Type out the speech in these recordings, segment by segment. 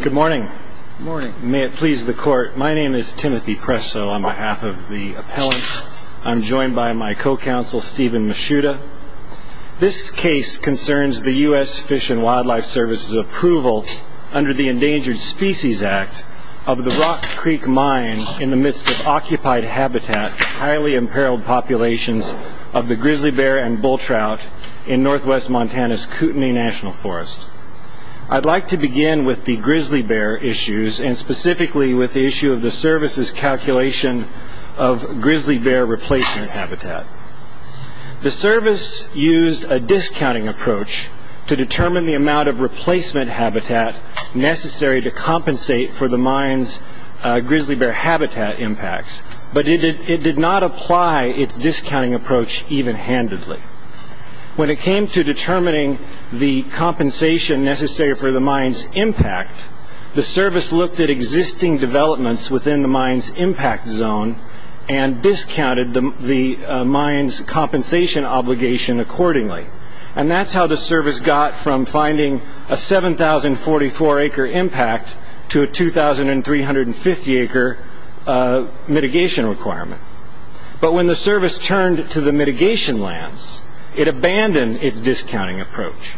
Good morning. May it please the court, my name is Timothy Presso on behalf of the appellants. I'm joined by my co-counsel Stephen Mishuda. This case concerns the US Fish and Wildlife Service's approval under the Endangered Species Act of the Rock Creek Mine in the midst of occupied habitat, highly imperiled populations of the grizzly bear and bull trout in northwest Montana's grizzly bear issues, and specifically with the issue of the service's calculation of grizzly bear replacement habitat. The service used a discounting approach to determine the amount of replacement habitat necessary to compensate for the mine's grizzly bear habitat impacts, but it did not apply its discounting approach even-handedly. When it came to determining the compensation necessary for the mine's impact, the service looked at existing developments within the mine's impact zone and discounted the mine's compensation obligation accordingly, and that's how the service got from finding a 7,044 acre impact to a 2,350 acre mitigation requirement. But when the service turned to the mitigation lands, it abandoned its discounting approach,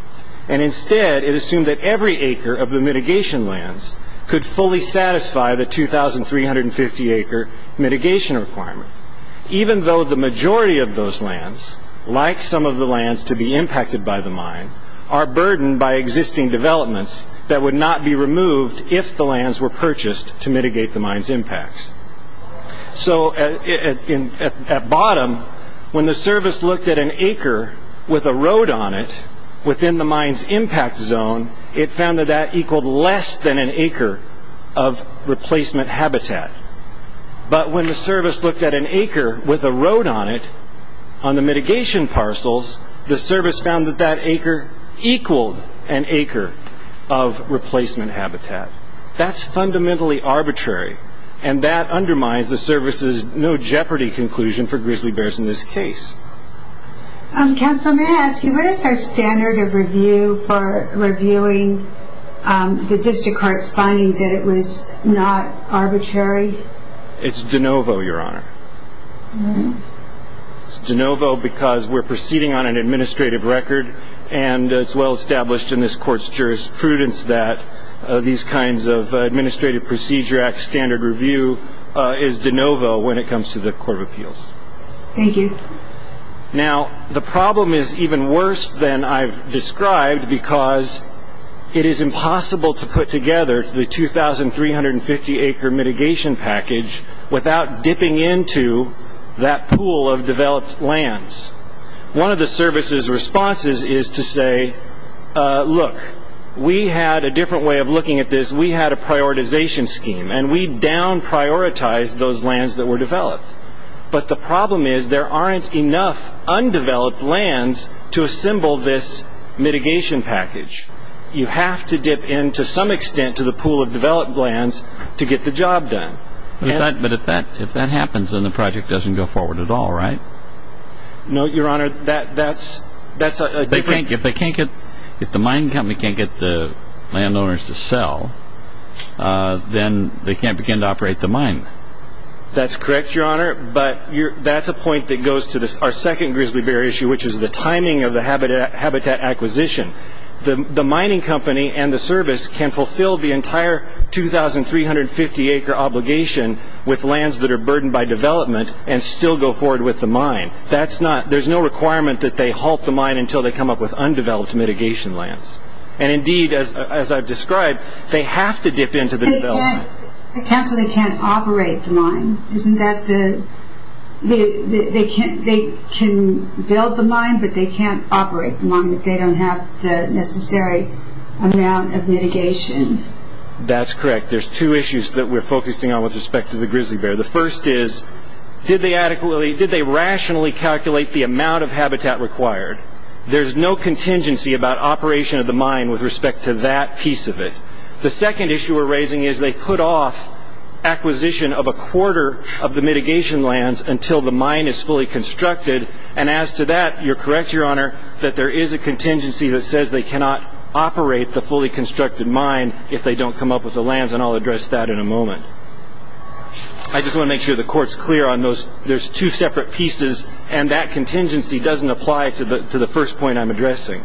and instead it assumed that every acre of the mitigation lands could fully satisfy the 2,350 acre mitigation requirement, even though the majority of those lands, like some of the lands to be impacted by the mine, are burdened by existing developments that would not be removed if the lands were purchased to mitigate the mine's impacts. So at bottom, when the service looked at an acre with a road on it within the mine's impact zone, it found that that equaled less than an acre of replacement habitat, but when the service looked at an acre with a road on it on the mitigation parcels, the service found that that acre equaled an acre of replacement habitat. That's fundamentally arbitrary, and that undermines the service's no-jeopardy conclusion for grizzly bears in this case. Um, counsel, may I ask you, what is our standard of review for reviewing the district court's finding that it was not arbitrary? It's de novo, your honor. It's de novo because we're proceeding on an administrative record, and it's well established in this court's jurisprudence that these kinds of administrative procedure act standard review is de novo when it comes to the court of appeals. Thank you. Now, the problem is even worse than I've described because it is impossible to put together the 2,350 acre mitigation package without dipping into that pool of developed lands. One of the look, we had a different way of looking at this. We had a prioritization scheme, and we down-prioritized those lands that were developed, but the problem is there aren't enough undeveloped lands to assemble this mitigation package. You have to dip in to some extent to the pool of developed lands to get the job done. But if that happens, then the project doesn't go forward at all, right? No, your honor, that's a different... If the mining company can't get the landowners to sell, then they can't begin to operate the mine. That's correct, your honor, but that's a point that goes to our second grizzly bear issue, which is the timing of the habitat acquisition. The mining company and the service can fulfill the entire 2,350 acre obligation with lands that are burdened by development and still go forward with the mine. There's no requirement that they halt the mine until they come up with undeveloped mitigation lands. And indeed, as I've described, they have to dip in to the development. But counsel, they can't operate the mine, isn't that the... They can build the mine, but they can't operate the mine if they don't have the necessary amount of mitigation. That's correct. There's two issues that we're focusing on with respect to the grizzly bear. The first is, did they rationally calculate the amount of habitat required? There's no contingency about operation of the mine with respect to that piece of it. The second issue we're raising is they put off acquisition of a quarter of the mitigation lands until the mine is fully constructed. And as to that, you're correct, your honor, that there is a contingency that says they cannot operate the fully constructed mine if they don't come up with the lands, and I'll address that in a moment. I just want to make sure the court's clear on those. There's two separate pieces, and that contingency doesn't apply to the first point I'm addressing.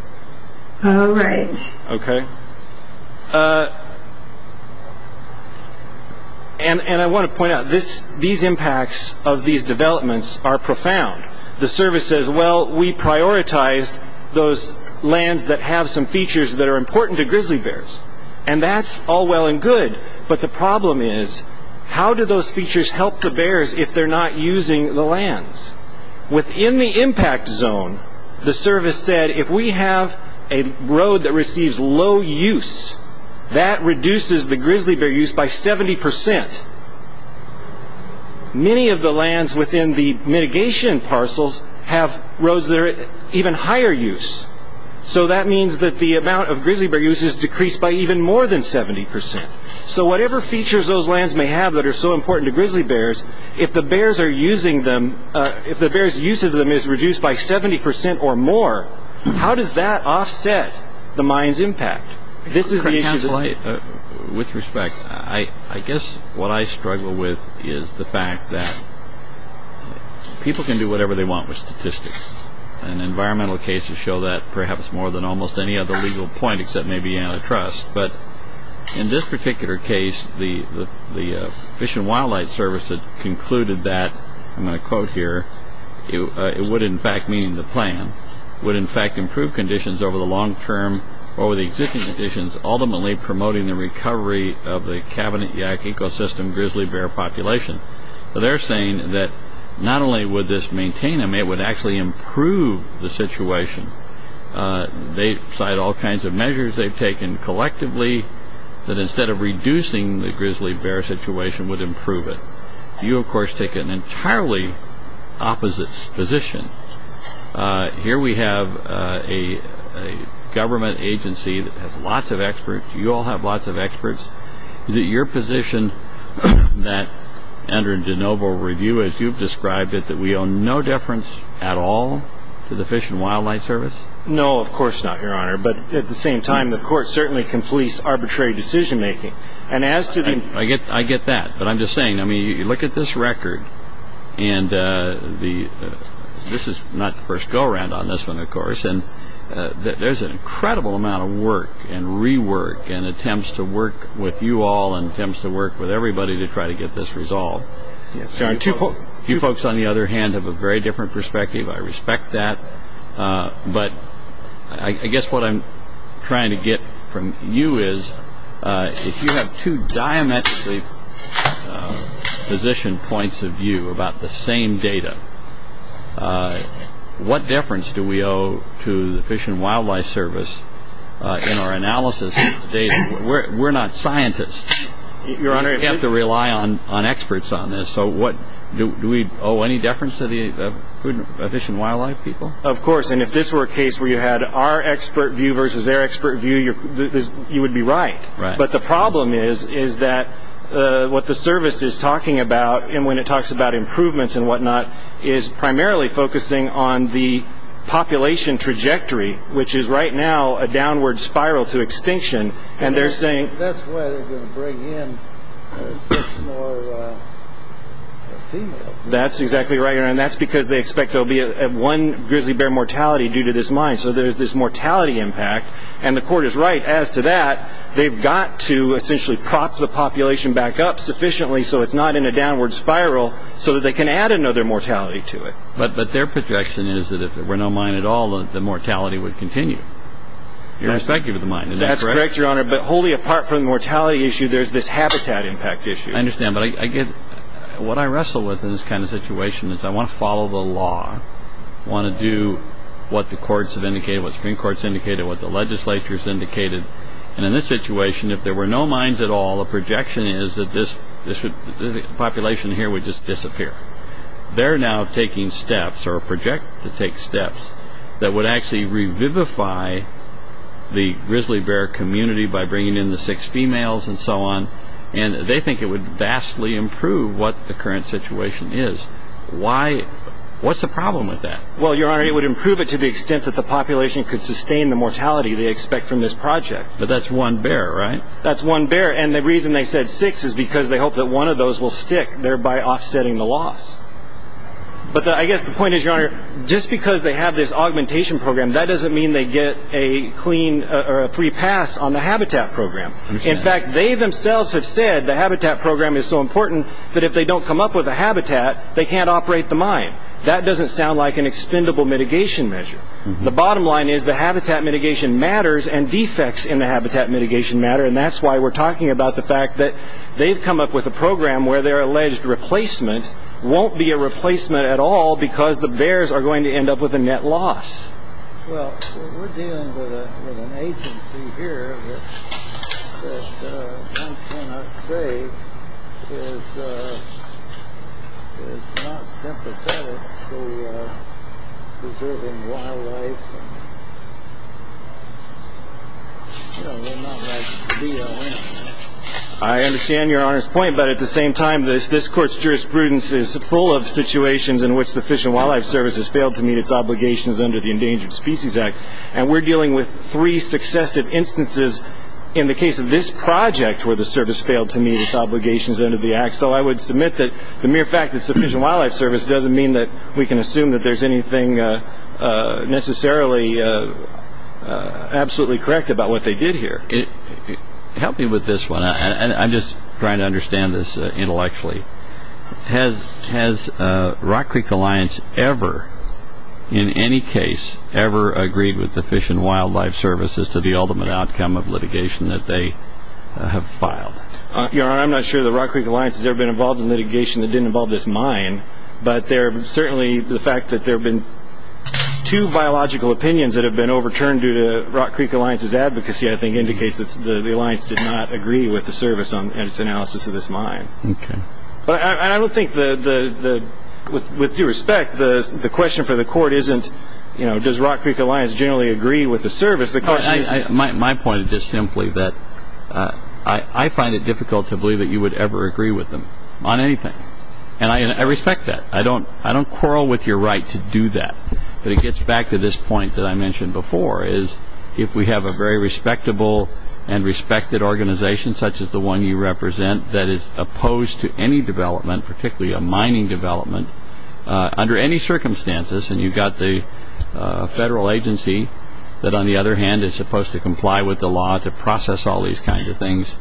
All right. Okay. And I want to point out, these impacts of these developments are profound. The service says, well, we prioritized those lands that have some features that are important to grizzly bears. And that's all well and good, but the problem is, how do those features help the bears if they're not using the lands? Within the impact zone, the service said, if we have a road that receives low use, that reduces the grizzly bear use by 70%. Many of the lands within the mitigation parcels have roads that are at even higher use. So that means that the amount of grizzly bear use is decreased by even more than 70%. So whatever features those lands may have that are so important to grizzly bears, if the bears' use of them is reduced by 70% or more, how does that offset the mine's impact? With respect, I guess what I struggle with is the fact that people can do whatever they want with statistics. And environmental cases show that perhaps more than almost any other legal point except maybe antitrust. But in this particular case, the Fish and Wildlife Service concluded that, I'm going to quote here, it would in fact mean the plan would in fact improve conditions over the long term or the existing conditions, ultimately promoting the recovery of the cabinet yak ecosystem grizzly bear population. So they're saying that not only would this maintain them, it would actually improve the situation. They cite all kinds of measures they've taken collectively that instead of reducing the grizzly bear situation would improve it. You, of course, take an entirely opposite position. Here we have a government agency that has lots of experts. You all have lots of experts. Is it your position that under de novo review, as you've described it, that we owe no deference at all to the Fish and Wildlife Service? No, of course not, your honor. But at the same time, the court certainly completes arbitrary decision making. I get that. But I'm just saying, I mean, you look at this record, and this is not the first go around on this one, of course, and there's an incredible amount of work and rework and attempts to work with you all and attempts to work with everybody to try to get this resolved. You folks, on the other hand, have a very different perspective. I is, if you have two diametrically positioned points of view about the same data, what difference do we owe to the Fish and Wildlife Service in our analysis of the data? We're not scientists. You have to rely on experts on this. So do we owe any deference to the Fish and Wildlife people? Of course. And if this were a case where you had our expert view versus their expert view, you would be right. But the problem is that what the service is talking about, and when it talks about improvements and whatnot, is primarily focusing on the population trajectory, which is right now a downward spiral to extinction, and they're saying... That's why they're going to bring in six more females. That's exactly right, your honor, and that's because they expect there'll be one grizzly bear mortality due to this mine. So there's this mortality impact, and the court is right as to that. They've got to essentially prop the population back up sufficiently so it's not in a downward spiral so that they can add another mortality to it. But their projection is that if there were no mine at all, the mortality would continue. You're expecting the mine. That's correct, your honor, but wholly apart from the mortality issue, there's this habitat impact issue. I understand, but what I wrestle with in this kind of situation is I want to follow the law I want to do what the courts have indicated, what the Supreme Court has indicated, what the legislature has indicated, and in this situation, if there were no mines at all, the projection is that this population here would just disappear. They're now taking steps, or project to take steps, that would actually revivify the grizzly bear community by bringing in the six females and so on, and they think it would vastly improve what the current situation is. What's the problem with that? Well, your honor, it would improve it to the extent that the population could sustain the mortality they expect from this project. But that's one bear, right? That's one bear, and the reason they said six is because they hope that one of those will stick, thereby offsetting the loss. But I guess the point is, your honor, just because they have this augmentation program, that doesn't mean they get a clean or a free pass on the habitat program. In fact, they themselves have said the habitat program is so important that if they don't come up with a habitat, they can't operate the mine. That doesn't sound like an expendable mitigation measure. The bottom line is the habitat mitigation matters and defects in the habitat mitigation matter, and that's why we're talking about the fact that they've come up with a program where their alleged replacement won't be a replacement at all because the bears are going to end up with a net loss. Well, we're dealing with an agency here that I cannot say is not sympathetic to preserving wildlife. I understand your honor's point, but at the same time, this court's jurisprudence is full of situations in which the Fish and Wildlife Service has failed to meet its Endangered Species Act, and we're dealing with three successive instances in the case of this project where the service failed to meet its obligations under the act. So I would submit that the mere fact that it's the Fish and Wildlife Service doesn't mean that we can assume that there's anything necessarily absolutely correct about what they did here. Help me with this one. I'm just trying to understand this intellectually. Has Rock Creek Alliance ever, in any case, ever agreed with the Fish and Wildlife Service as to the ultimate outcome of litigation that they have filed? Your honor, I'm not sure that Rock Creek Alliance has ever been involved in litigation that didn't involve this mine, but certainly the fact that there have been two biological opinions that have been overturned due to Rock Creek Alliance's advocacy, I think, indicates that the Alliance did not agree with the service and its analysis of this mine. Okay. But I don't think, with due respect, the question for the court isn't, you know, does Rock Creek Alliance generally agree with the service? My point is just simply that I find it difficult to believe that you would ever agree with them on anything, and I respect that. I don't quarrel with your right to do that, but it gets back to this point that I mentioned before, is if we have a very respectable and respected organization, such as the one you represent, that is opposed to any development, particularly a mining development, under any circumstances, and you've got the federal agency that, on the other hand, is supposed to comply with the law to process all these kinds of things,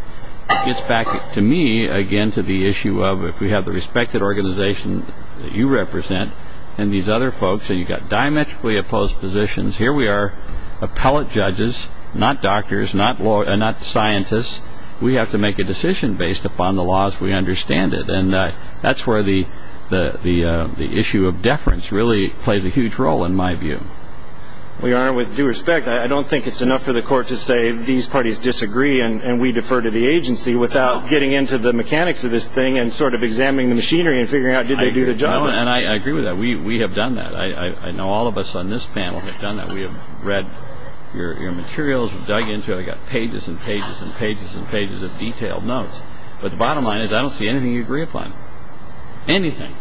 it gets back to me, again, to the issue of if we have the respected organization that you represent and these other folks, and you've got diametrically opposed positions, here we are, appellate judges, not doctors, not scientists, we have to make a law as we understand it. And that's where the issue of deference really plays a huge role, in my view. Well, Your Honor, with due respect, I don't think it's enough for the court to say these parties disagree and we defer to the agency without getting into the mechanics of this thing and sort of examining the machinery and figuring out did they do the job? I agree with that. We have done that. I know all of us on this panel have done that. We have read your materials, dug into it. I've got pages and pages and pages and pages of detailed notes. But the bottom line is I don't see anything you'd agree upon. Anything.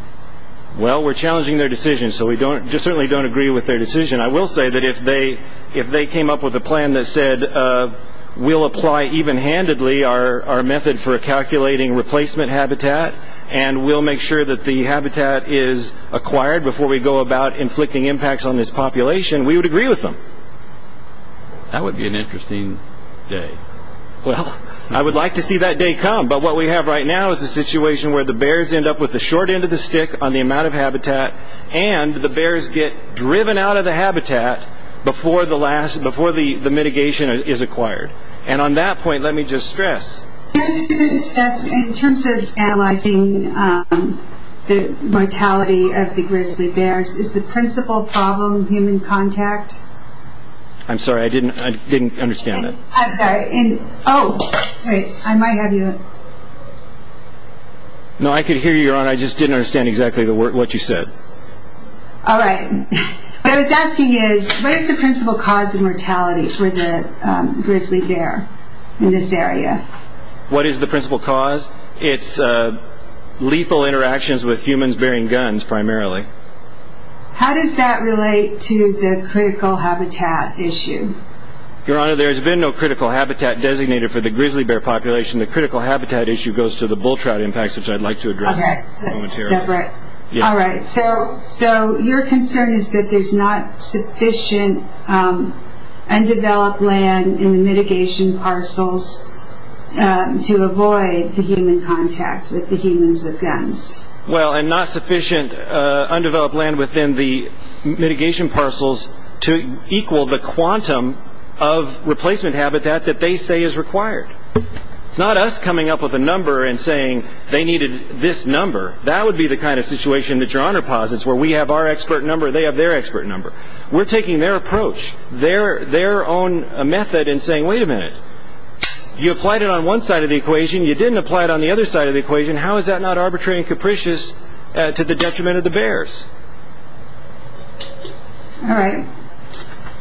Well, we're challenging their decision, so we certainly don't agree with their decision. I will say that if they came up with a plan that said we'll apply even-handedly our method for calculating replacement habitat and we'll make sure that the habitat is acquired before we go about inflicting impacts on this population, we would agree with them. That would be an interesting day. Well, I would like to see that day come. But what we have right now is a situation where the bears end up with the short end of the stick on the amount of habitat and the bears get driven out of the habitat before the mitigation is acquired. And on that point, let me just stress. In terms of analyzing the mortality of the grizzly bears, is the principal problem human contact? I'm sorry. I didn't understand that. I'm sorry. Oh, wait. I might have you. No, I could hear you, Your Honor. I just didn't understand exactly what you said. All right. What I was asking is what is the principal cause of mortality for the What is the principal cause? It's lethal interactions with humans bearing guns primarily. How does that relate to the critical habitat issue? Your Honor, there has been no critical habitat designated for the grizzly bear population. The critical habitat issue goes to the bull trout impacts, which I'd like to address. All right. That's separate. All right. So your concern is that there's not sufficient undeveloped land in the mitigation parcels to avoid the human contact with the humans with guns. Well, and not sufficient undeveloped land within the mitigation parcels to equal the quantum of replacement habitat that they say is required. It's not us coming up with a number and saying they needed this number. That would be the kind of situation that Your Honor posits, where we have our expert number, they have their expert number. We're taking their approach, their own method and saying, wait a minute, you applied it on one side of the equation. You didn't apply it on the other side of the equation. How is that not arbitrary and capricious to the detriment of the bears? All right.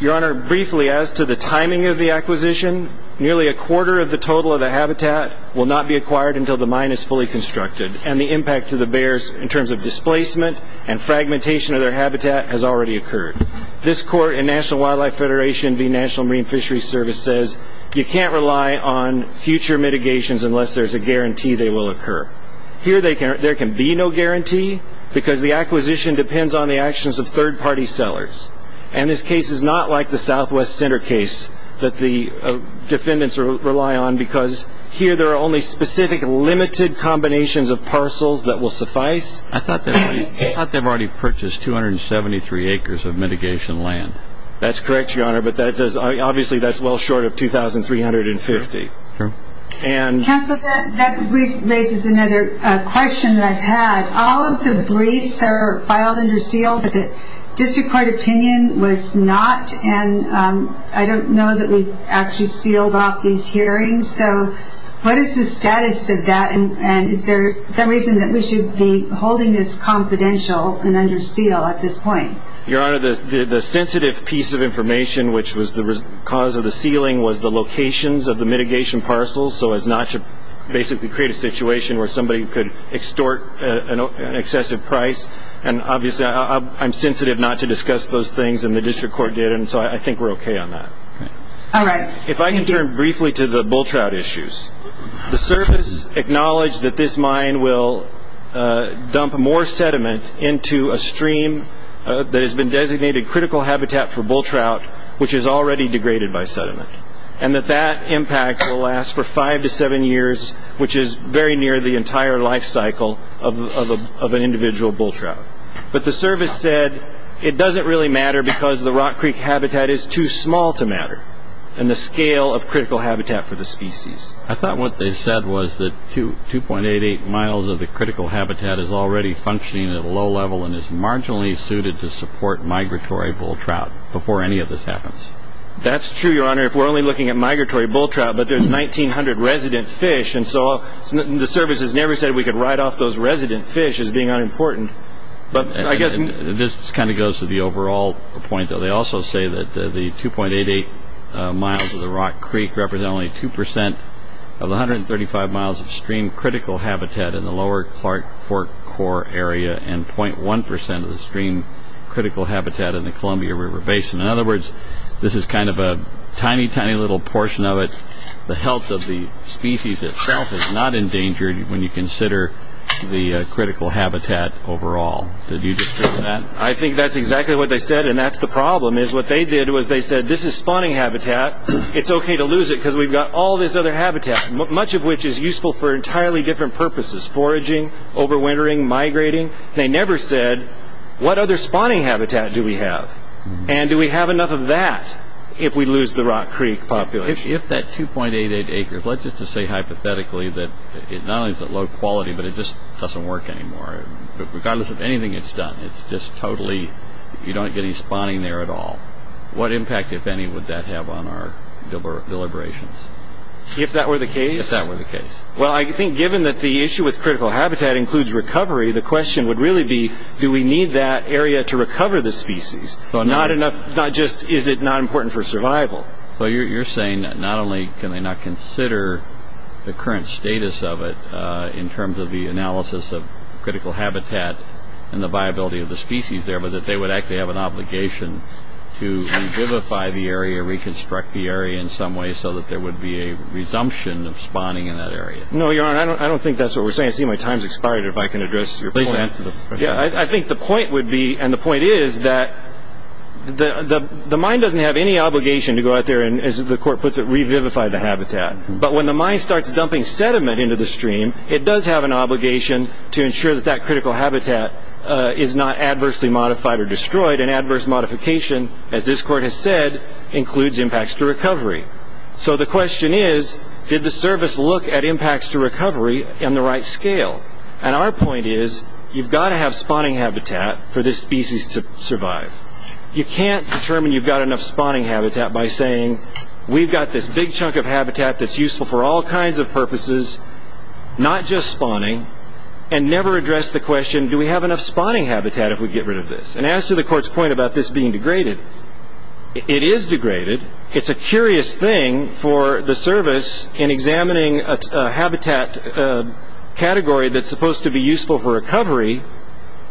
Your Honor, briefly, as to the timing of the acquisition, nearly a quarter of the total of the habitat will not be acquired until the mine is fully constructed. And the impact to the bears in terms of displacement and fragmentation of their habitat has already occurred. This court in National Wildlife Federation v. National Marine Fishery Service says you can't rely on future mitigations unless there's a guarantee they will occur. Here, there can be no guarantee because the acquisition depends on the actions of third-party sellers. And this case is not like the Southwest Center case that the defendants rely on because here there are only specific limited combinations of parcels that will suffice. I thought they've already purchased 273 acres of mitigation land. That's correct, Your Honor, but obviously that's well short of 2,350. Counselor, that raises another question that I've had. All of the briefs are filed under seal, but the district court opinion was not. And I don't know that we actually sealed off these confidential and under seal at this point. Your Honor, the sensitive piece of information, which was the cause of the sealing, was the locations of the mitigation parcels, so as not to basically create a situation where somebody could extort an excessive price. And obviously, I'm sensitive not to discuss those things, and the district court did, and so I think we're okay on that. All right. If I can turn briefly to the bull trout issues. The service acknowledged that this mine will dump more sediment into a stream that has been designated critical habitat for bull trout, which is already degraded by sediment, and that that impact will last for five to seven years, which is very near the entire life cycle of an individual bull trout. But the service said it doesn't really matter because the Rock Creek habitat is too small to matter in the scale of critical habitat for the species. I thought what they said was that 2.88 miles of the critical habitat is already functioning at a low level and is marginally suited to support migratory bull trout before any of this happens. That's true, Your Honor, if we're only looking at migratory bull trout. But there's 1,900 resident fish, and so the service has never said we could write off those resident fish as being unimportant. But I guess this kind of goes to the overall point, though. They also say that the 2.88 miles of the Rock Creek represent only 2% of the 135 miles of stream critical habitat in the lower Clark Fork Core area and 0.1% of the stream critical habitat in the Columbia River Basin. In other words, this is kind of a tiny, tiny little portion of it. The health of the species itself is not endangered when you consider the critical habitat overall. Did you disagree with that? I think that's exactly what they said. And that's the problem is what they did was they said, this is spawning habitat. It's okay to lose it because we've got all this other habitat, much of which is useful for entirely different purposes, foraging, overwintering, migrating. They never said, what other spawning habitat do we have? And do we have enough of that if we lose the Rock Creek population? If that 2.88 acres, let's just say hypothetically that it not only is it low quality, but it just doesn't work anymore. Regardless of anything it's done, it's just totally, you don't get any spawning there at all. What impact, if any, would that have on our deliberations? If that were the case? If that were the case. Well, I think given that the issue with critical habitat includes recovery, the question would really be, do we need that area to recover the species? Not just, is it not important for survival? So you're saying that not only can they not consider the current status of it in terms of the analysis of critical habitat and the viability of the species there, but that they would actually have an obligation to revivify the area, reconstruct the area in some way so that there would be a resumption of spawning in that area? No, Your Honor, I don't think that's what we're saying. I see my time's expired. If I can address your point. Please answer the question. Yeah, I think the point would be, and the point is, that the mine doesn't have any obligation to go out there and, as the court puts it, revivify the habitat. But when the mine starts dumping sediment into the stream, it does have an obligation to ensure that that critical habitat is not adversely modified or destroyed, and adverse modification, as this court has said, includes impacts to recovery. So the question is, did the service look at impacts to recovery in the right scale? And our point is, you've got to have spawning habitat for this species to survive. You can't determine you've got enough spawning habitat by saying, we've got this big chunk of habitat that's useful for all kinds of purposes, not just spawning, and never address the question, do we have enough spawning habitat if we get rid of this? And as to the court's point about this being degraded, it is degraded. It's a curious thing for the service, in examining a habitat category that's supposed to be useful for recovery,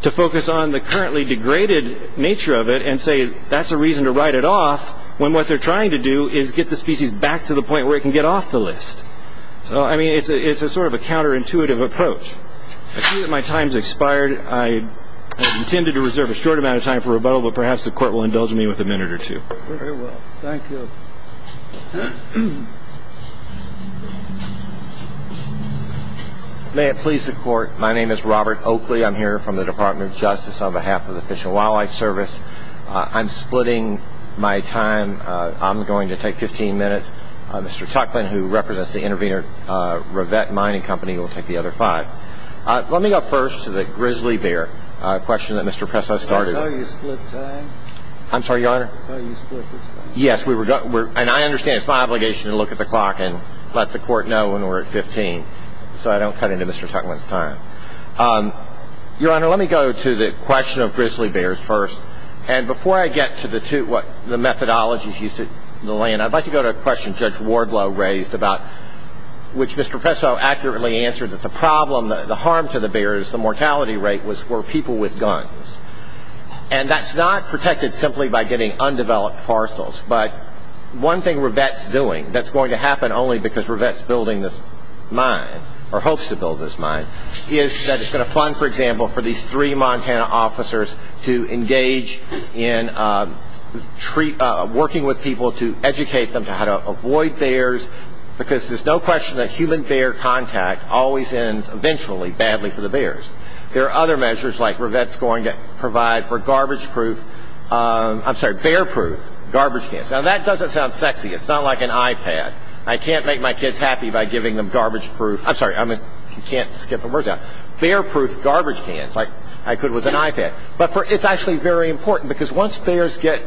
to focus on the currently degraded nature of it and say, that's a reason to write it off, when what they're trying to do is get the species back to the point where it can get off the list. So I mean, it's a sort of a counterintuitive approach. I see that my time's expired. I had intended to reserve a short amount of time for rebuttal, but perhaps the court will indulge me with a minute or two. Very well. Thank you. May it please the court. My name is Robert Oakley. I'm here from the Department of Justice on behalf of the Fish and Wildlife Service. I'm splitting my time. I'm going to take 15 minutes. Mr. Tuchman, who represents the Intervenor Rivet Mining Company, will take the other five. Let me go first to the grizzly bear question that Mr. Press has started. I'm sorry, you split time? I'm sorry, Your Honor? I'm sorry, you split this time? Yes. And I understand it's my obligation to look at the clock and let the court know when we're at 15, so I don't cut into Mr. Tuchman's time. Your Honor, let me go to the question of grizzly bears first. And before I get to the two, the methodologies used in the land, I'd like to go to a question Judge Wardlow raised about, which Mr. Presso accurately answered, that the problem, the harm to the bears, the mortality rate, were people with guns. And that's not protected simply by getting undeveloped parcels. But one thing Rivet's doing that's going to happen only because Rivet's building this mine, or hopes to build this mine, is that it's going to fund, for example, for these three Montana officers to engage in working with people to educate them how to avoid bears, because there's no question that human-bear contact always ends, eventually, badly for the bears. There are other measures like Rivet's going to provide for bear-proof garbage cans. Now, that doesn't sound sexy. It's not like an iPad. I can't make my kids happy by giving them bear-proof garbage cans like I could with an iPad. But it's actually very important, because once bears get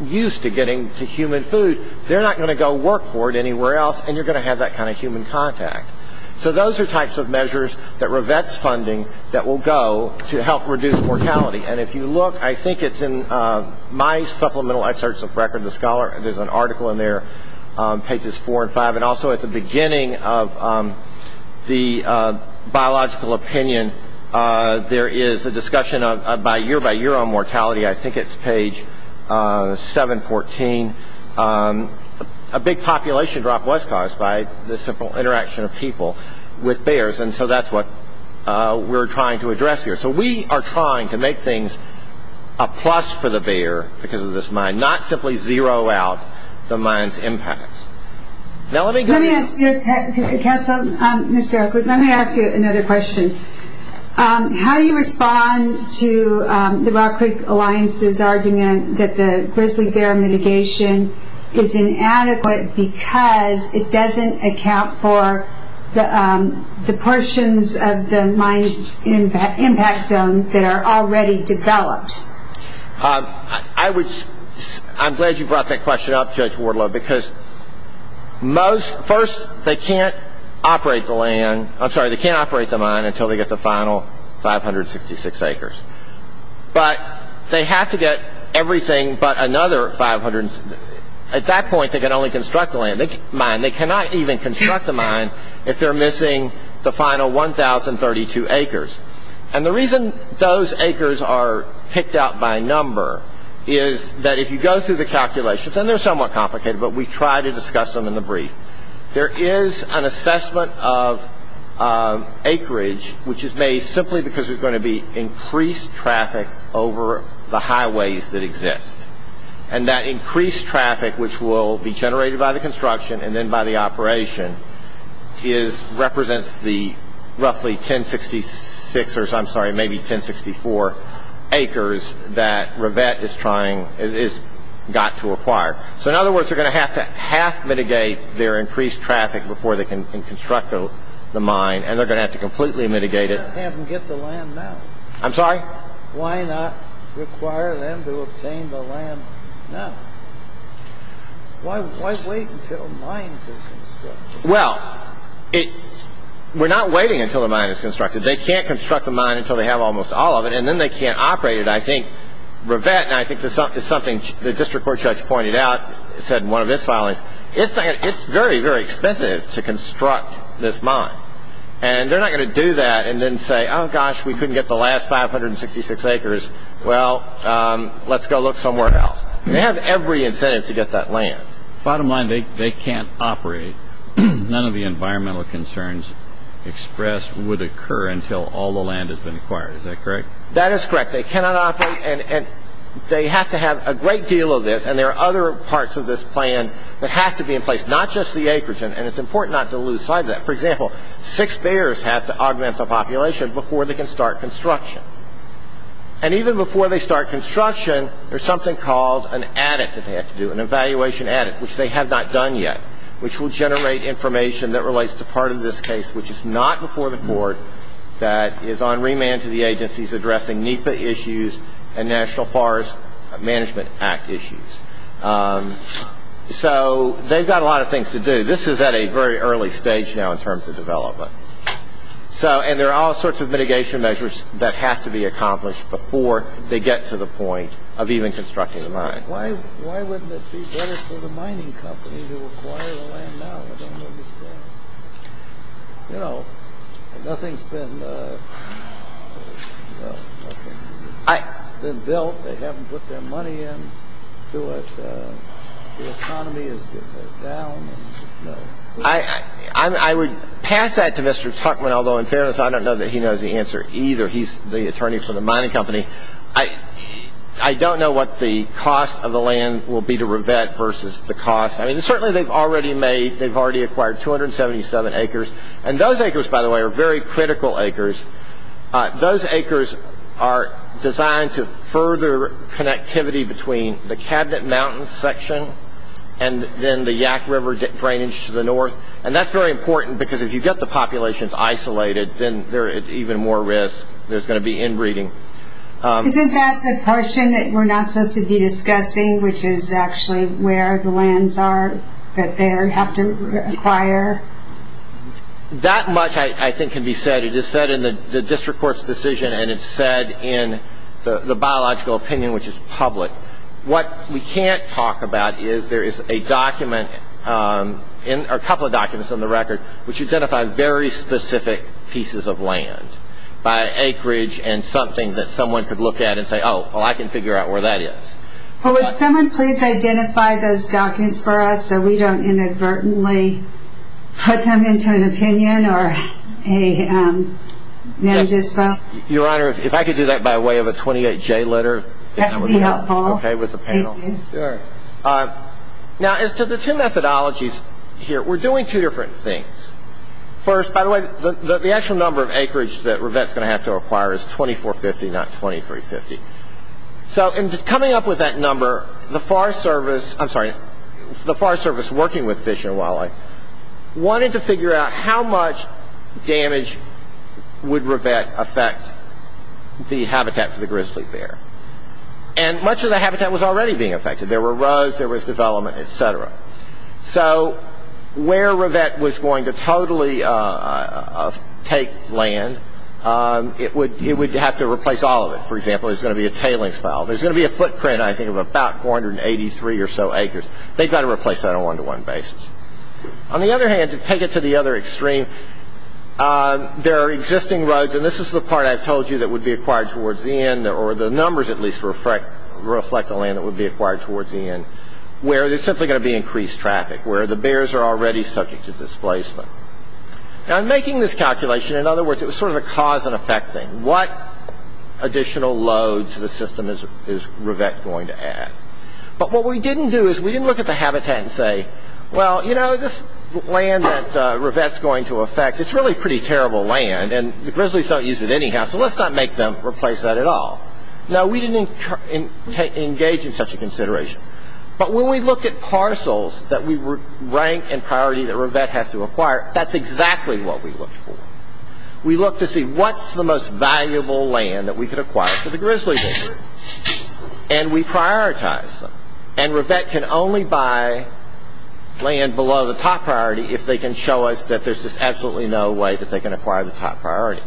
used to getting to human food, they're not going to go work for it anywhere else, and you're going to have that kind of human contact. So those are types of measures that Rivet's funding that will go to help reduce mortality. And if you look, I think it's in my supplemental excerpts of Record of the Scholar. There's an article in there, pages four and five. And also at the beginning of the biological opinion, there is a discussion year-by-year on mortality. I think it's page 714. A big population drop was caused by this simple interaction of people with bears, and so that's what we're trying to address here. So we are trying to make things a plus for the impacts. Let me ask you another question. How do you respond to the Rock Creek Alliance's argument that the grizzly bear mitigation is inadequate because it doesn't account for the portions of the mine's impact zone that are already developed? I'm glad you brought that question up, Judge Wardlow, because first, they can't operate the mine until they get the final 566 acres. But they have to get everything but another 500. At that point, they can only construct the mine. They cannot even construct the mine if they're missing the final 1,032 acres. And the reason those acres are picked out by number is that if you go through the calculations, and they're somewhat complicated, but we try to discuss them in the brief, there is an assessment of acreage which is made simply because there's going to be increased traffic over the highways that exist. And that increased traffic which will be generated by the construction and then by the So in other words, they're going to have to half-mitigate their increased traffic before they can construct the mine, and they're going to have to completely mitigate it. Why not have them get the land now? I'm sorry? Why not require them to obtain the land now? Why wait until mines are constructed? Well, we're not waiting until the mine is constructed. They can't construct the mine until they have almost all of it, and then they can't operate it. I think, something the district court judge pointed out, said in one of its filings, it's very, very expensive to construct this mine. And they're not going to do that and then say, oh gosh, we couldn't get the last 566 acres, well, let's go look somewhere else. They have every incentive to get that land. Bottom line, they can't operate. None of the environmental concerns expressed would occur until all the land has been acquired. Is that correct? That is correct. They cannot operate, and they have to have a great deal of this, and there are other parts of this plan that have to be in place, not just the acreage, and it's important not to lose sight of that. For example, six bears have to augment the population before they can start construction. And even before they start construction, there's something called an adit that they have to do, an evaluation adit, which they have not done yet, which will generate information that relates to which is not before the board, that is on remand to the agencies addressing NEPA issues and National Forest Management Act issues. So they've got a lot of things to do. This is at a very early stage now in terms of development. And there are all sorts of mitigation measures that have to be accomplished before they get to the point of even constructing the mine. Why wouldn't it be better for the mining company to acquire the land now? You know, nothing's been built. They haven't put their money into it. The economy is down. I would pass that to Mr. Tuckman, although in fairness, I don't know that he knows the answer either. He's the attorney for the mining company. I don't know what the cost of the land will be to revet versus the cost. Certainly they've already made, they've already acquired 277 acres. And those acres, by the way, are very critical acres. Those acres are designed to further connectivity between the Cabinet Mountains section and then the Yaak River drainage to the north. And that's very important because if you get the populations isolated, then they're at even more risk. There's going to be inbreeding. Isn't that the portion that we're not supposed to be discussing, which is actually where the lands are that they have to acquire? That much, I think, can be said. It is said in the district court's decision and it's said in the biological opinion, which is public. What we can't talk about is there is a document, a couple of documents on the record, which identify very specific pieces of land by acreage and something that someone could look at and say, oh, well, I can figure out where that is. Well, would someone please identify those documents for us so we don't inadvertently put them into an opinion or a NAMDISPO? Your Honor, if I could do that by way of a 28-J letter. That would be helpful. Okay, with the panel. Now, as to the two methodologies here, we're doing two different things. First, by the way, the actual number of acreage that Revett's going to have to acquire is 2450, not 2350. So in coming up with that number, the Forest Service, I'm sorry, the Forest Service working with Fish and Wildlife wanted to figure out how much damage would Revett affect the habitat for the grizzly bear. And much of the habitat was already being affected. There were roads, there was development, et cetera. So where Revett was going to totally take land, it would have to replace all of it. For example, there's going to be a tailings pile. There's going to be a footprint, I think, of about 483 or so acres. They've got to replace that on a one-to-one basis. On the other hand, to take it to the other extreme, there are existing roads, and this is the part I've told you that would be acquired towards the end, or the numbers at least reflect the land that would be acquired towards the end, where there's simply going to be increased traffic, where the bears are already subject to displacement. Now, in making this calculation, in other words, it was sort of a cause and effect thing. What additional load to the system is Revett going to add? But what we didn't do is we didn't look at the habitat and say, well, you know, this land that Revett's going to affect, it's really pretty terrible land, and the grizzlies don't use it anyhow, so let's not make them replace that at all. No, we didn't engage in such a consideration. But when we look at parcels that we rank in priority that Revett has to acquire, that's exactly what we look for. We look to see what's the most valuable land that we could acquire for the grizzlies, and we prioritize them. And Revett can only buy land below the top priority if they can show us that there's just absolutely no way that they can acquire the top priority.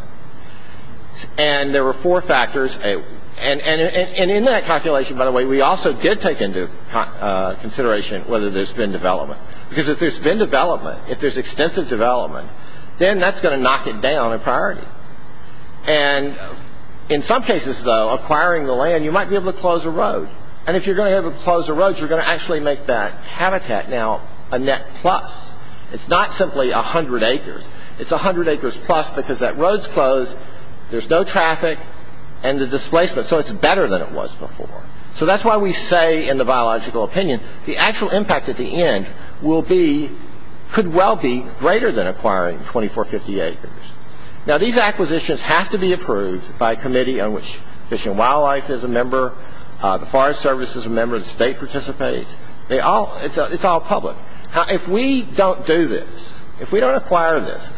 And there were four factors, and in that calculation, by the way, we also did take into consideration whether there's been development. Because if there's been development, if there's extensive development, then that's going to knock it down in priority. And in some cases, though, acquiring the land, you might be able to close a road. And if you're going to be able to close a road, you're going to actually make that habitat now a net plus. It's not simply 100 acres. It's 100 acres plus because that road's closed, there's no traffic, and the displacement. So it's better than it was before. So that's why we say in the biological opinion, the actual impact at the end could well be greater than acquiring 24, 50 acres. Now, these acquisitions have to be approved by a committee on which Fish and Wildlife is a member, the Forest Service is a member, the state participates. It's all public. If we don't do this, if we don't acquire this,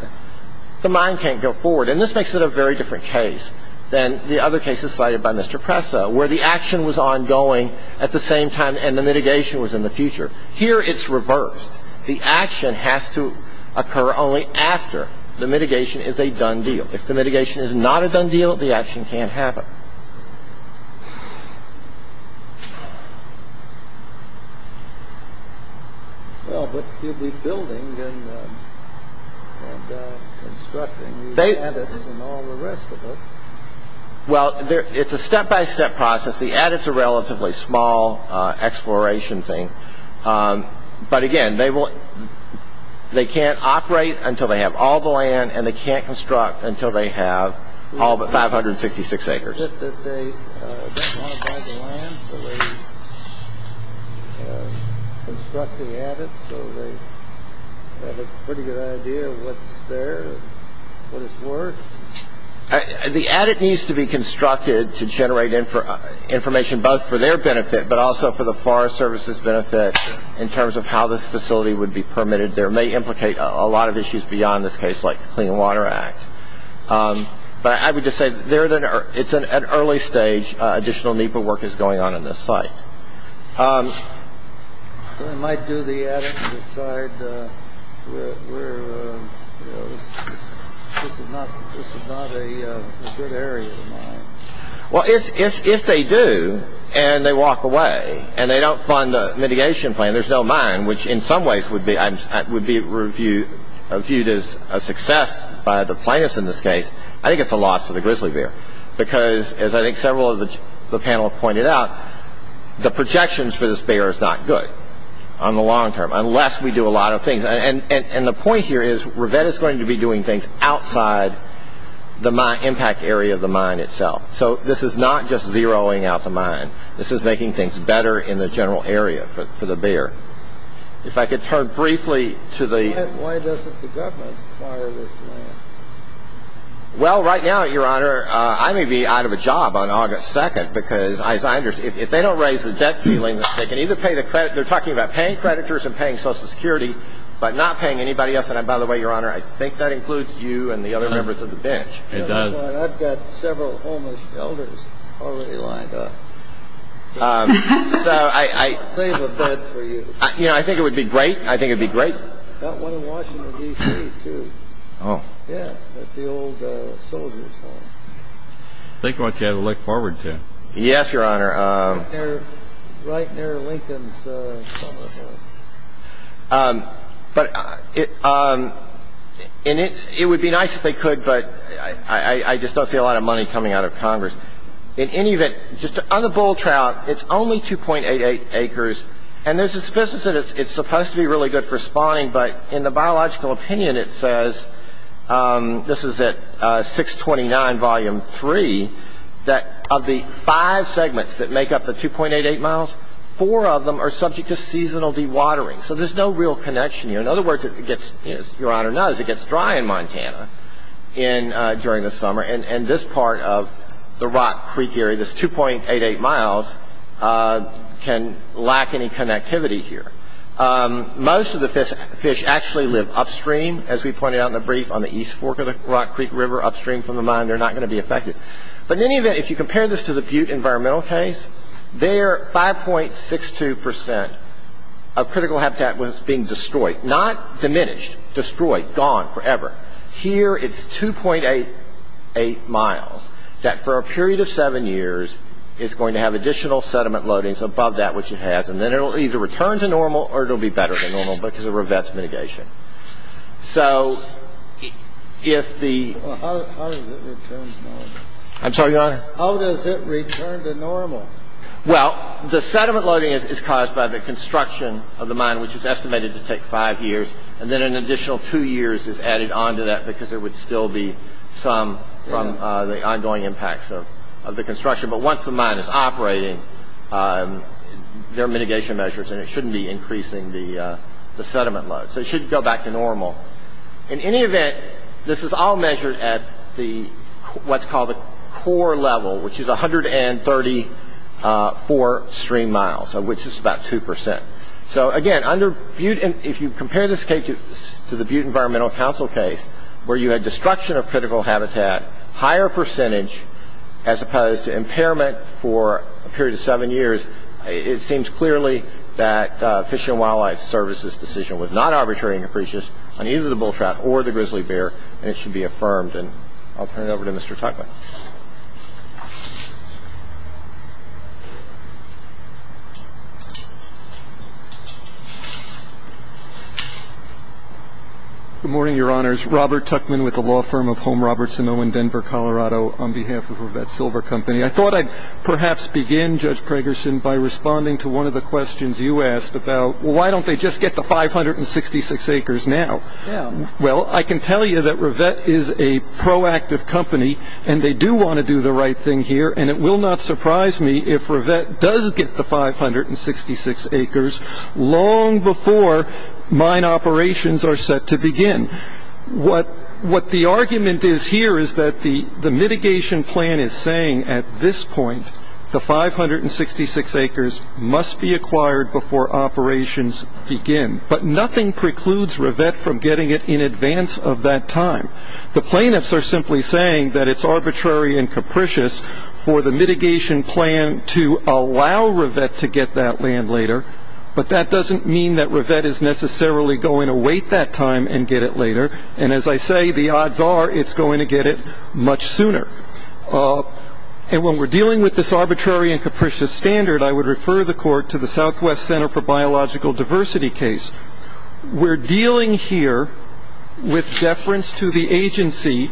the mine can't go forward. And this makes it a very different case than the other cases cited by Mr. Presa, where the action was ongoing at the same time and the mitigation was in the future. Here, it's reversed. The action has to occur only after the mitigation is a done deal. If the mitigation is not a done deal, the action can't happen. Well, but you'll be building and constructing new habits and all the rest of it. Well, it's a step-by-step process. The adits are a relatively small exploration thing. But again, they can't operate until they have all the land, and they can't construct until they have all but 566 acres. Is it that they don't want to buy the land, but they construct the adits, so they have a pretty good idea of what's there, what it's worth? The adit needs to be constructed to generate information both for their benefit, but also for the Forest Service's benefit in terms of how this facility would be permitted. There may implicate a lot of issues beyond this case, like the Clean Water Act. But I would just say, it's an early stage. Additional NEPA work is going on in this site. They might do the adit and decide this is not a good area to mine. Well, if they do, and they walk away, and they don't fund the mitigation plan, there's no mine, which in some ways would be viewed as a success by the plaintiffs in this case. I think it's a loss to the grizzly bear, because as I think several of the panel have pointed out, the projections for this bear is not good on the long term, unless we do a lot of things. And the point here is, ReVet is going to be doing things outside the impact area of the mine itself. So this is not just zeroing out the mine. This is making things better in the general area for the bear. If I could turn briefly to the... Why doesn't the government fire this man? Well, right now, Your Honor, I may be out of a job on August 2nd, because as I understand, if they don't raise the debt ceiling, they can either pay the credit... They're talking about paying creditors and paying Social Security, but not paying anybody else. And by the way, Your Honor, I think that includes you and the other members of the bench. It does. I've got several homeless elders already lined up. So I... I'll save a bed for you. You know, I think it would be great. I think it'd be great. Got one in Washington, D.C., too. Oh. Yeah, at the old soldier's home. I think I want you to have a look forward to it. Yes, Your Honor. Right near Lincoln's summer home. But it would be nice if they could, but I just don't see a lot of money coming out of Congress. In any event, just on the bull trout, it's only 2.88 acres. And there's a suspicion that it's supposed to be really good for spawning, but in the biological opinion, it says... 3, that of the 5 segments that make up the 2.88 miles, 4 of them are subject to seasonal dewatering. So there's no real connection here. In other words, it gets... As Your Honor knows, it gets dry in Montana during the summer. And this part of the Rock Creek area, this 2.88 miles, can lack any connectivity here. Most of the fish actually live upstream, as we pointed out in the brief, on the east fork of the Rock Creek River, upstream from the mine. They're not going to be affected. But in any event, if you compare this to the Butte environmental case, there, 5.62% of critical habitat was being destroyed. Not diminished, destroyed, gone forever. Here, it's 2.88 miles, that for a period of seven years, is going to have additional sediment loadings above that, which it has. And then it'll either return to normal, or it'll be better than normal, because of Revett's mitigation. So if the... Well, how does it return to normal? I'm sorry, Your Honor? How does it return to normal? Well, the sediment loading is caused by the construction of the mine, which is estimated to take five years. And then an additional two years is added onto that, because there would still be some from the ongoing impacts of the construction. But once the mine is operating, there are mitigation measures, and it shouldn't be increasing the sediment load. So it should go back to normal. In any event, this is all measured at what's called the core level, which is 134 stream miles, which is about 2%. So again, if you compare this case to the Butte environmental counsel case, where you had destruction of critical habitat, higher percentage, as opposed to impairment for a period of seven years, it seems clearly that Fish and Wildlife Service's decision was not arbitrary and capricious on either the bull trout or the grizzly bear, and it should be affirmed. And I'll turn it over to Mr. Tuckman. Good morning, Your Honors. Robert Tuckman with the law firm of Home Roberts in Owen, Denver, Colorado, on behalf of Revett Silver Company. I thought I'd perhaps begin, Judge Pragerson, by responding to one of the questions you asked about, why don't they just get the 566 acres now? Well, I can tell you that Revett is a proactive company, and they do want to do the right thing here, and it will not surprise me if Revett does get the 566 acres long before mine operations are set to begin. What the argument is here is that the mitigation plan is saying at this point, the 566 acres must be acquired before operations begin, but nothing precludes Revett from getting it in advance of that time. The plaintiffs are simply saying that it's arbitrary and capricious for the mitigation plan to allow Revett to get that land later, but that doesn't mean that Revett is necessarily going to wait that time and get it later, and as I say, the odds are it's going to get it much sooner. And when we're dealing with this arbitrary and capricious standard, I would refer the court to the Southwest Center for Biological Diversity case. We're dealing here with deference to the agency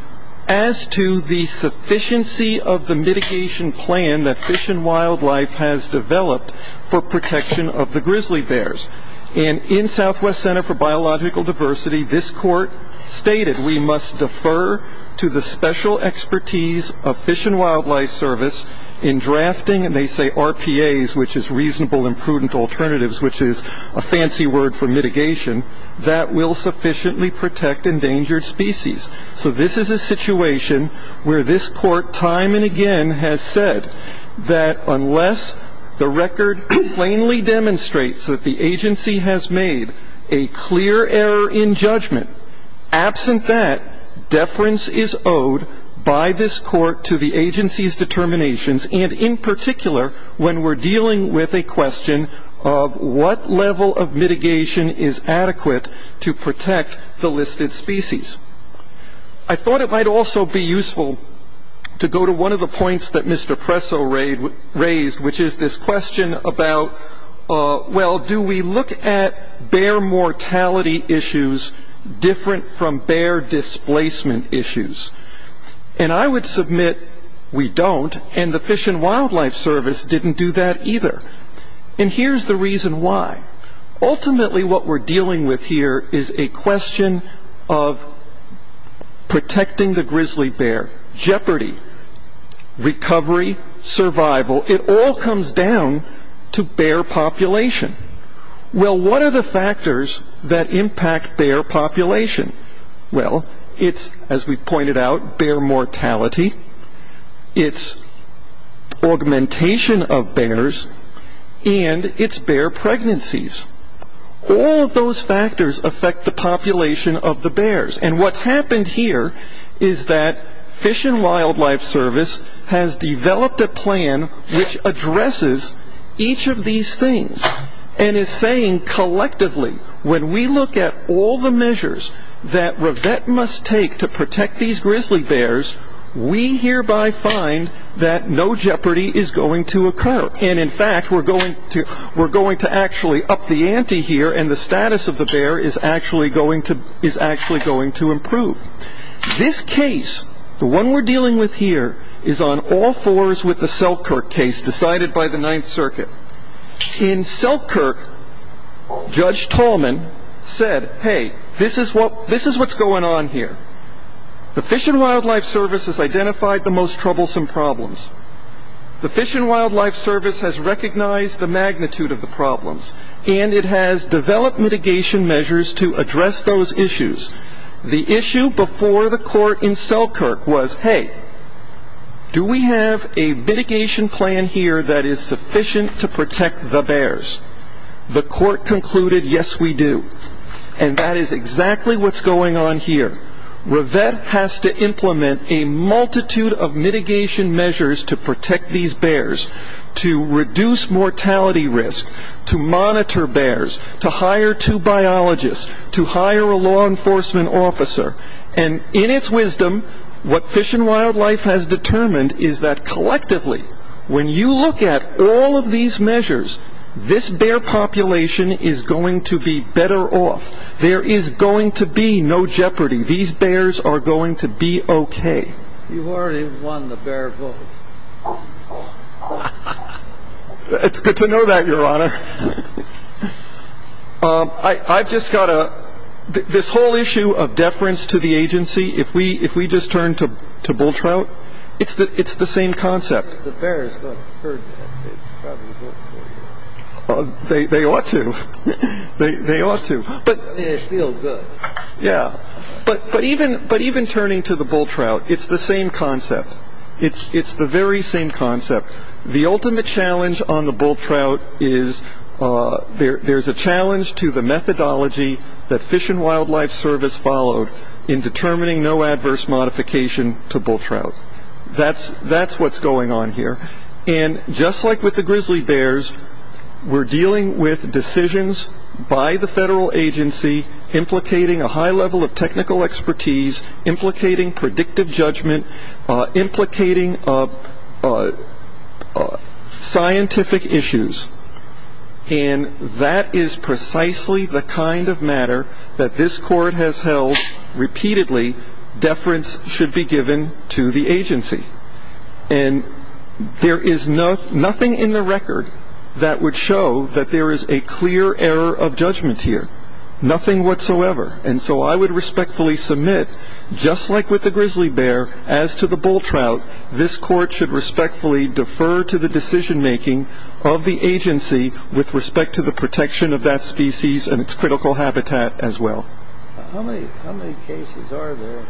as to the sufficiency of the mitigation plan that Fish and Wildlife has developed for protection of the grizzly bears, and in Southwest Center for Biological Diversity, this court stated we must defer to the special expertise of Fish and Wildlife Service in drafting, and they say RPAs, which is reasonable and prudent alternatives, which is a fancy word for mitigation, that will sufficiently protect endangered species. So this is a situation where this court time and again has said that unless the record plainly that the agency has made a clear error in judgment, absent that, deference is owed by this court to the agency's determinations, and in particular, when we're dealing with a question of what level of mitigation is adequate to protect the listed species. I thought it might also be useful to go to one of the points that Mr. Presso raised, which is this question about, well, do we look at bear mortality issues different from bear displacement issues, and I would submit we don't, and the Fish and Wildlife Service didn't do that either, and here's the reason why. Ultimately, what we're dealing with here is a question of protecting the grizzly bear, jeopardy, recovery, survival, it all comes down to bear population. Well, what are the factors that impact bear population? Well, it's, as we pointed out, bear mortality, it's augmentation of bears, and it's bear pregnancies. All of those factors affect the population of the bears, and what's happened here is that Fish and Wildlife Service has developed a plan which addresses each of these things, and is saying, collectively, when we look at all the measures that Revett must take to protect these grizzly bears, we hereby find that no jeopardy is going to occur, and in fact, we're going to actually up the ante here, this case, the one we're dealing with here, is on all fours with the Selkirk case decided by the Ninth Circuit. In Selkirk, Judge Tallman said, hey, this is what's going on here. The Fish and Wildlife Service has identified the most troublesome problems. The Fish and Wildlife Service has recognized the magnitude of the problems, and it has developed mitigation measures to address those issues. The issue before the court in Selkirk was, hey, do we have a mitigation plan here that is sufficient to protect the bears? The court concluded, yes, we do, and that is exactly what's going on here. Revett has to implement a multitude of mitigation measures to protect these bears, to reduce mortality risk, to monitor bears, to hire two biologists, to hire a law enforcement officer, and in its wisdom, what Fish and Wildlife has determined is that collectively, when you look at all of these measures, this bear population is going to be better off. There is going to be no jeopardy. These bears are going to be okay. You've already won the bear vote. It's good to know that, Your Honor. I've just got to, this whole issue of deference to the agency, if we just turn to bull trout, it's the same concept. They ought to, they ought to. Yeah, but even turning to the bull trout, it's the same concept. It's the very same concept. The ultimate challenge on the bull trout is, there's a challenge to the methodology that Fish and Wildlife Service followed in determining no adverse modification to bull trout. That's what's going on here, and just like with the grizzly bears, we're dealing with decisions by the federal agency implicating a high level of technical expertise, implicating predictive judgment, implicating scientific issues, and that is precisely the kind of matter that this court has held repeatedly, deference should be given to the agency. And there is nothing in the record that would show that there is a clear error of judgment here, nothing whatsoever. And so I would respectfully submit, just like with the grizzly bear, as to the bull trout, this court should respectfully defer to the decision making of the agency with respect to the protection of that species and its critical habitat as well. How many cases are there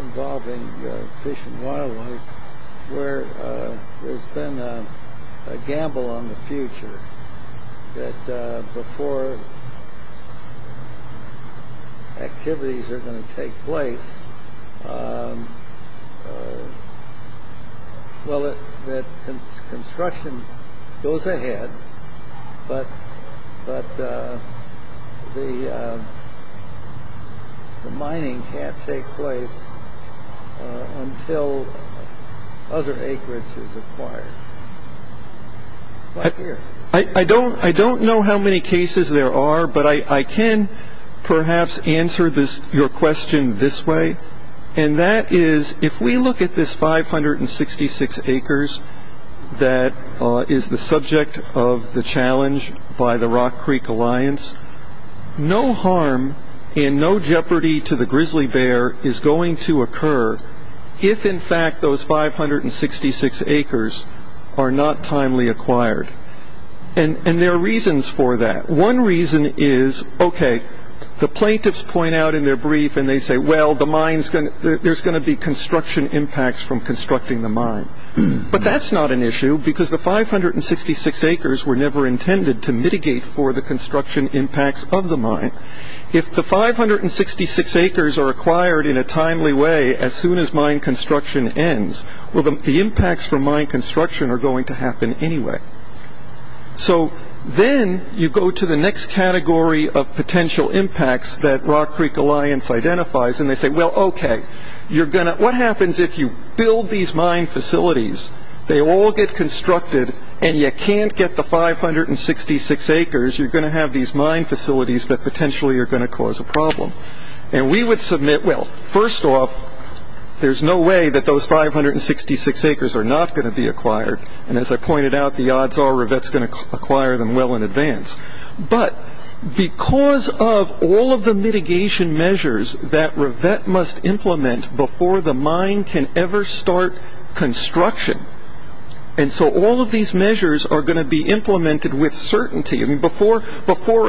involving fish and wildlife where there's been a gamble on the future that before activities are going to take place, well, that construction goes ahead, but the mining can't take place until other acreage is acquired? I don't know how many cases there are, but I can perhaps answer your question this way, and that is if we look at this 566 acres that is the subject of the challenge by the Rock Creek Alliance, no harm and no jeopardy to the grizzly bear is going to occur if in fact those 566 acres are not timely acquired. And there are reasons for that. One reason is, okay, the plaintiffs point out in their brief and they say, well, there's going to be construction impacts from constructing the mine. But that's not an issue because the 566 acres were never intended to mitigate for the construction impacts of the mine. If the 566 acres are acquired in a timely way as soon as mine construction ends, well, the impacts from mine construction are going to happen anyway. So then you go to the next category of potential impacts that Rock Creek Alliance identifies, and they say, well, okay, what happens if you build these mine facilities, they all get constructed and you can't get the 566 acres, you're going to have these mine facilities that potentially are going to cause a problem. And we would submit, well, first off, there's no way that those 566 acres are not going to be acquired. And as I pointed out, the odds are Rivette's going to acquire them well in advance. But because of all of the mitigation measures that Rivette must implement before the mine can ever start construction. And so all of these measures are going to be implemented with certainty. I mean, before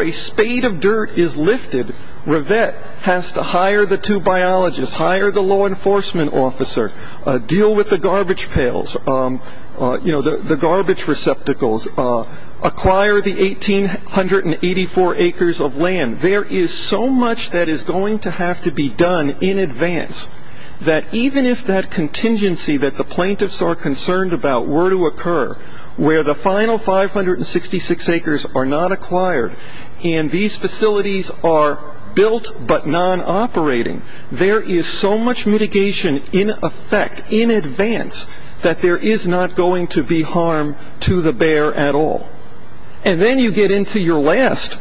a spade of dirt is lifted, Rivette has to hire the two biologists, hire the law enforcement officer, deal with the garbage pails, the garbage receptacles, acquire the 1884 acres of land. There is so much that is going to have to be done in advance, that even if that contingency that the plaintiffs are concerned about were to occur, where the final 566 acres are not acquired, and these facilities are built but non-operating, there is so much mitigation in effect in advance that there is not going to be harm to the bear at all. And then you get into your last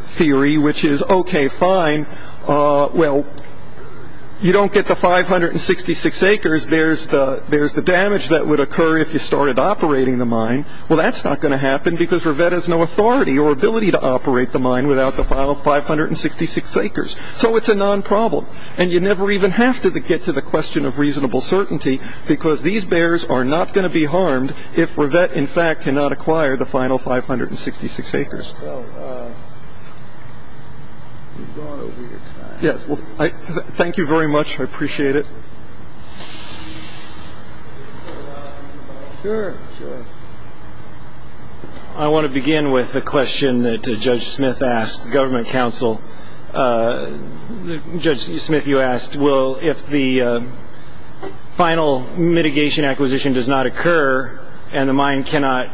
theory, which is, okay, fine. Well, you don't get the 566 acres. There's the damage that would occur if you started operating the mine. Well, that's not going to happen because Rivette has no authority or ability to operate the mine without the final 566 acres. So it's a non-problem. And you never even have to get to the question of reasonable certainty because these bears are not going to be harmed if Rivette, in fact, cannot acquire the final 566 acres. Yes, well, thank you very much. I appreciate it. I want to begin with a question that Judge Smith asked the government counsel. Judge Smith, you asked, well, if the final mitigation acquisition does not occur and the mine cannot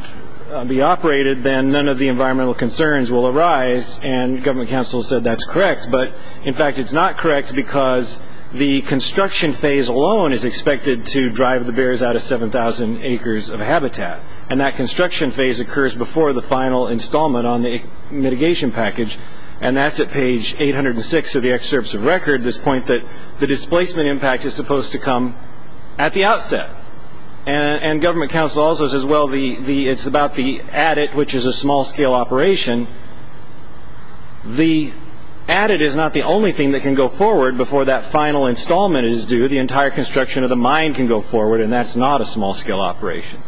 be operated, then none of the environmental concerns will arise. And government counsel said that's correct. But in fact, it's not correct because the construction phase alone is expected to drive the bears out of 7,000 acres of habitat. And that construction phase occurs before the final installment on the mitigation package. And that's at page 806 of the excerpts of record, this point that the displacement impact is supposed to come at the outset. And government counsel also says, well, it's about the addit, which is a small-scale operation. The addit is not the only thing that can go forward before that final installment is due. The entire construction of the mine can go forward. And that's not a small-scale operation.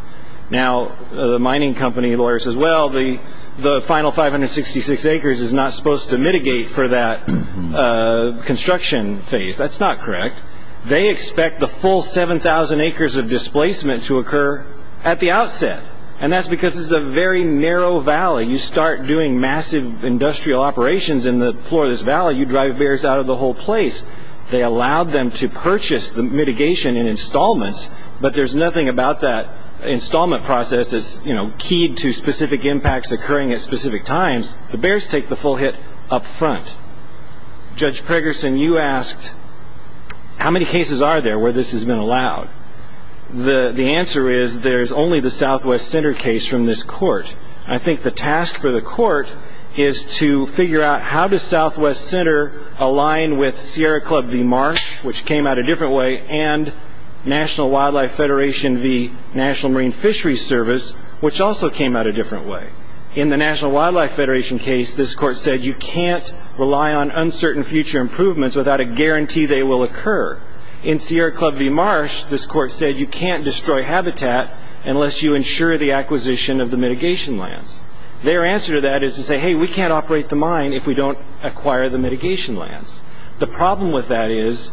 Now, the mining company lawyer says, well, the final 566 acres is not supposed to mitigate for that construction phase. That's not correct. They expect the full 7,000 acres of displacement to occur at the outset. And that's because it's a very narrow valley. You start doing massive industrial operations in the floor of this valley, you drive bears out of the whole place. They allowed them to purchase the mitigation and installments. But there's nothing about that installment process that's keyed to specific impacts occurring at specific times. The bears take the full hit up front. Judge Pregerson, you asked, how many cases are there where this has been allowed? The answer is there's only the Southwest Center case from this court. I think the task for the court is to figure out how does Southwest Center align with Sierra Club v. Marsh, which came out a different way, and National Wildlife Federation v. National Marine Fisheries Service, which also came out a different way. In the National Wildlife Federation case, this court said you can't rely on uncertain future improvements without a guarantee they will occur. In Sierra Club v. Marsh, this court said you can't destroy habitat unless you ensure the acquisition of the mitigation lands. Their answer to that is to say, hey, we can't operate the mine if we don't acquire the mitigation lands. The problem with that is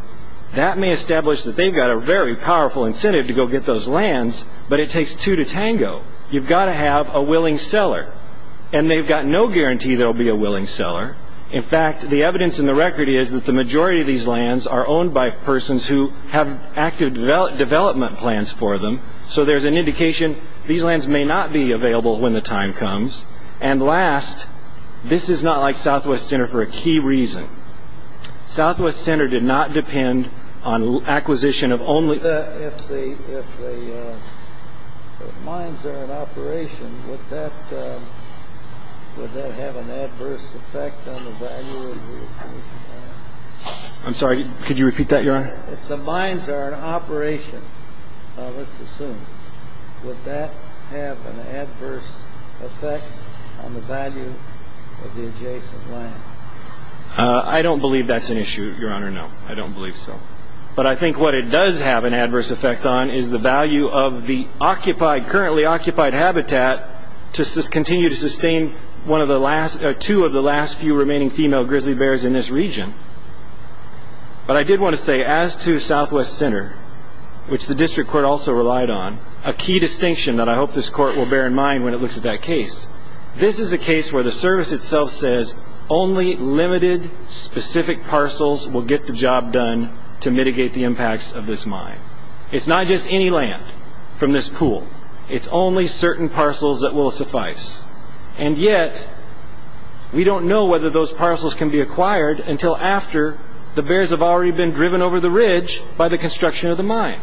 that may establish that they've got a very powerful incentive to go get those lands, but it takes two to tango. You've got to have a willing seller, and they've got no guarantee there'll be a willing seller. In fact, the evidence in the record is that the majority of these lands are owned by persons who have active development plans for them, so there's an indication these lands may not be available when the time comes. Last, this is not like Southwest Center for a key reason. Southwest Center did not depend on acquisition of only... If the mines are in operation, would that have an adverse effect on the value of the adjacent land? I'm sorry, could you repeat that, Your Honor? If the mines are in operation, let's assume, would that have an adverse effect on the value of the adjacent land? I don't believe that's an issue, Your Honor, no. I don't believe so. But I think what it does have an adverse effect on is the value of the currently occupied habitat to continue to sustain two of the last few remaining female grizzly bears in this region. But I did want to say as to Southwest Center, which the district court also relied on, a key distinction that I hope this court will bear in mind when it looks at that case, this is a case where the service itself says only limited specific parcels will get the job done to mitigate the impacts of this mine. It's not just any land from this pool. It's only certain parcels that will suffice. And yet, we don't know whether those parcels can be acquired until after the bears have already been driven over the ridge by the construction of the mine.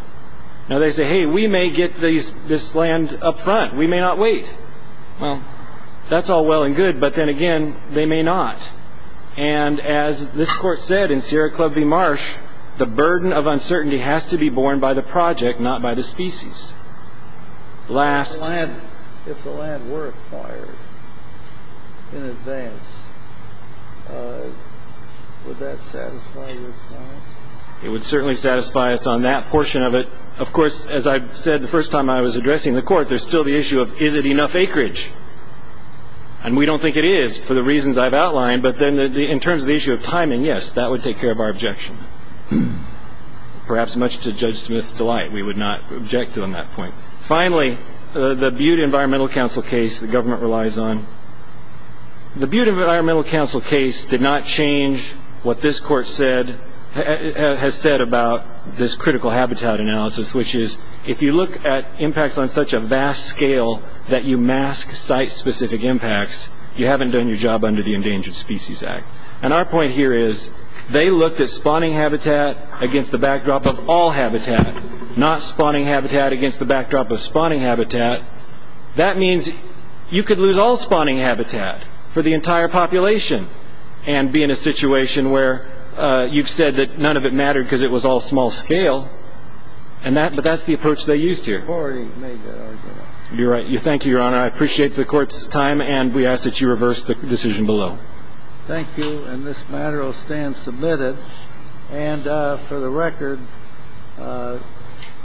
Now they say, hey, we may get this land up front. We may not wait. Well, that's all well and good. But then again, they may not. And as this court said in Sierra Club v. Marsh, the burden of uncertainty has to be borne by the project, not by the species. Last. If the land were acquired in advance, would that satisfy your clients? It would certainly satisfy us on that portion of it. Of course, as I said the first time I was addressing the court, there's still the issue of is it enough acreage? And we don't think it is for the reasons I've outlined. But then in terms of the issue of timing, yes, that would take care of our objection. Perhaps much to Judge Smith's delight, we would not object to on that point. Finally, the Butte Environmental Council case the government relies on. The Butte Environmental Council case did not change what this court has said about this critical habitat analysis, which is if you look at impacts on such a vast scale that you mask site-specific impacts, you haven't done your job under the Endangered Species Act. And our point here is they looked at spawning habitat against the backdrop of all habitat, not spawning habitat against the backdrop of spawning habitat. That means you could lose all spawning habitat for the entire population and be in a situation where you've said that none of it mattered because it was all small scale. But that's the approach they used here. You're right. Thank you, Your Honor. I appreciate the court's time. And we ask that you reverse the decision below. Thank you. And this matter will stand submitted. And for the record...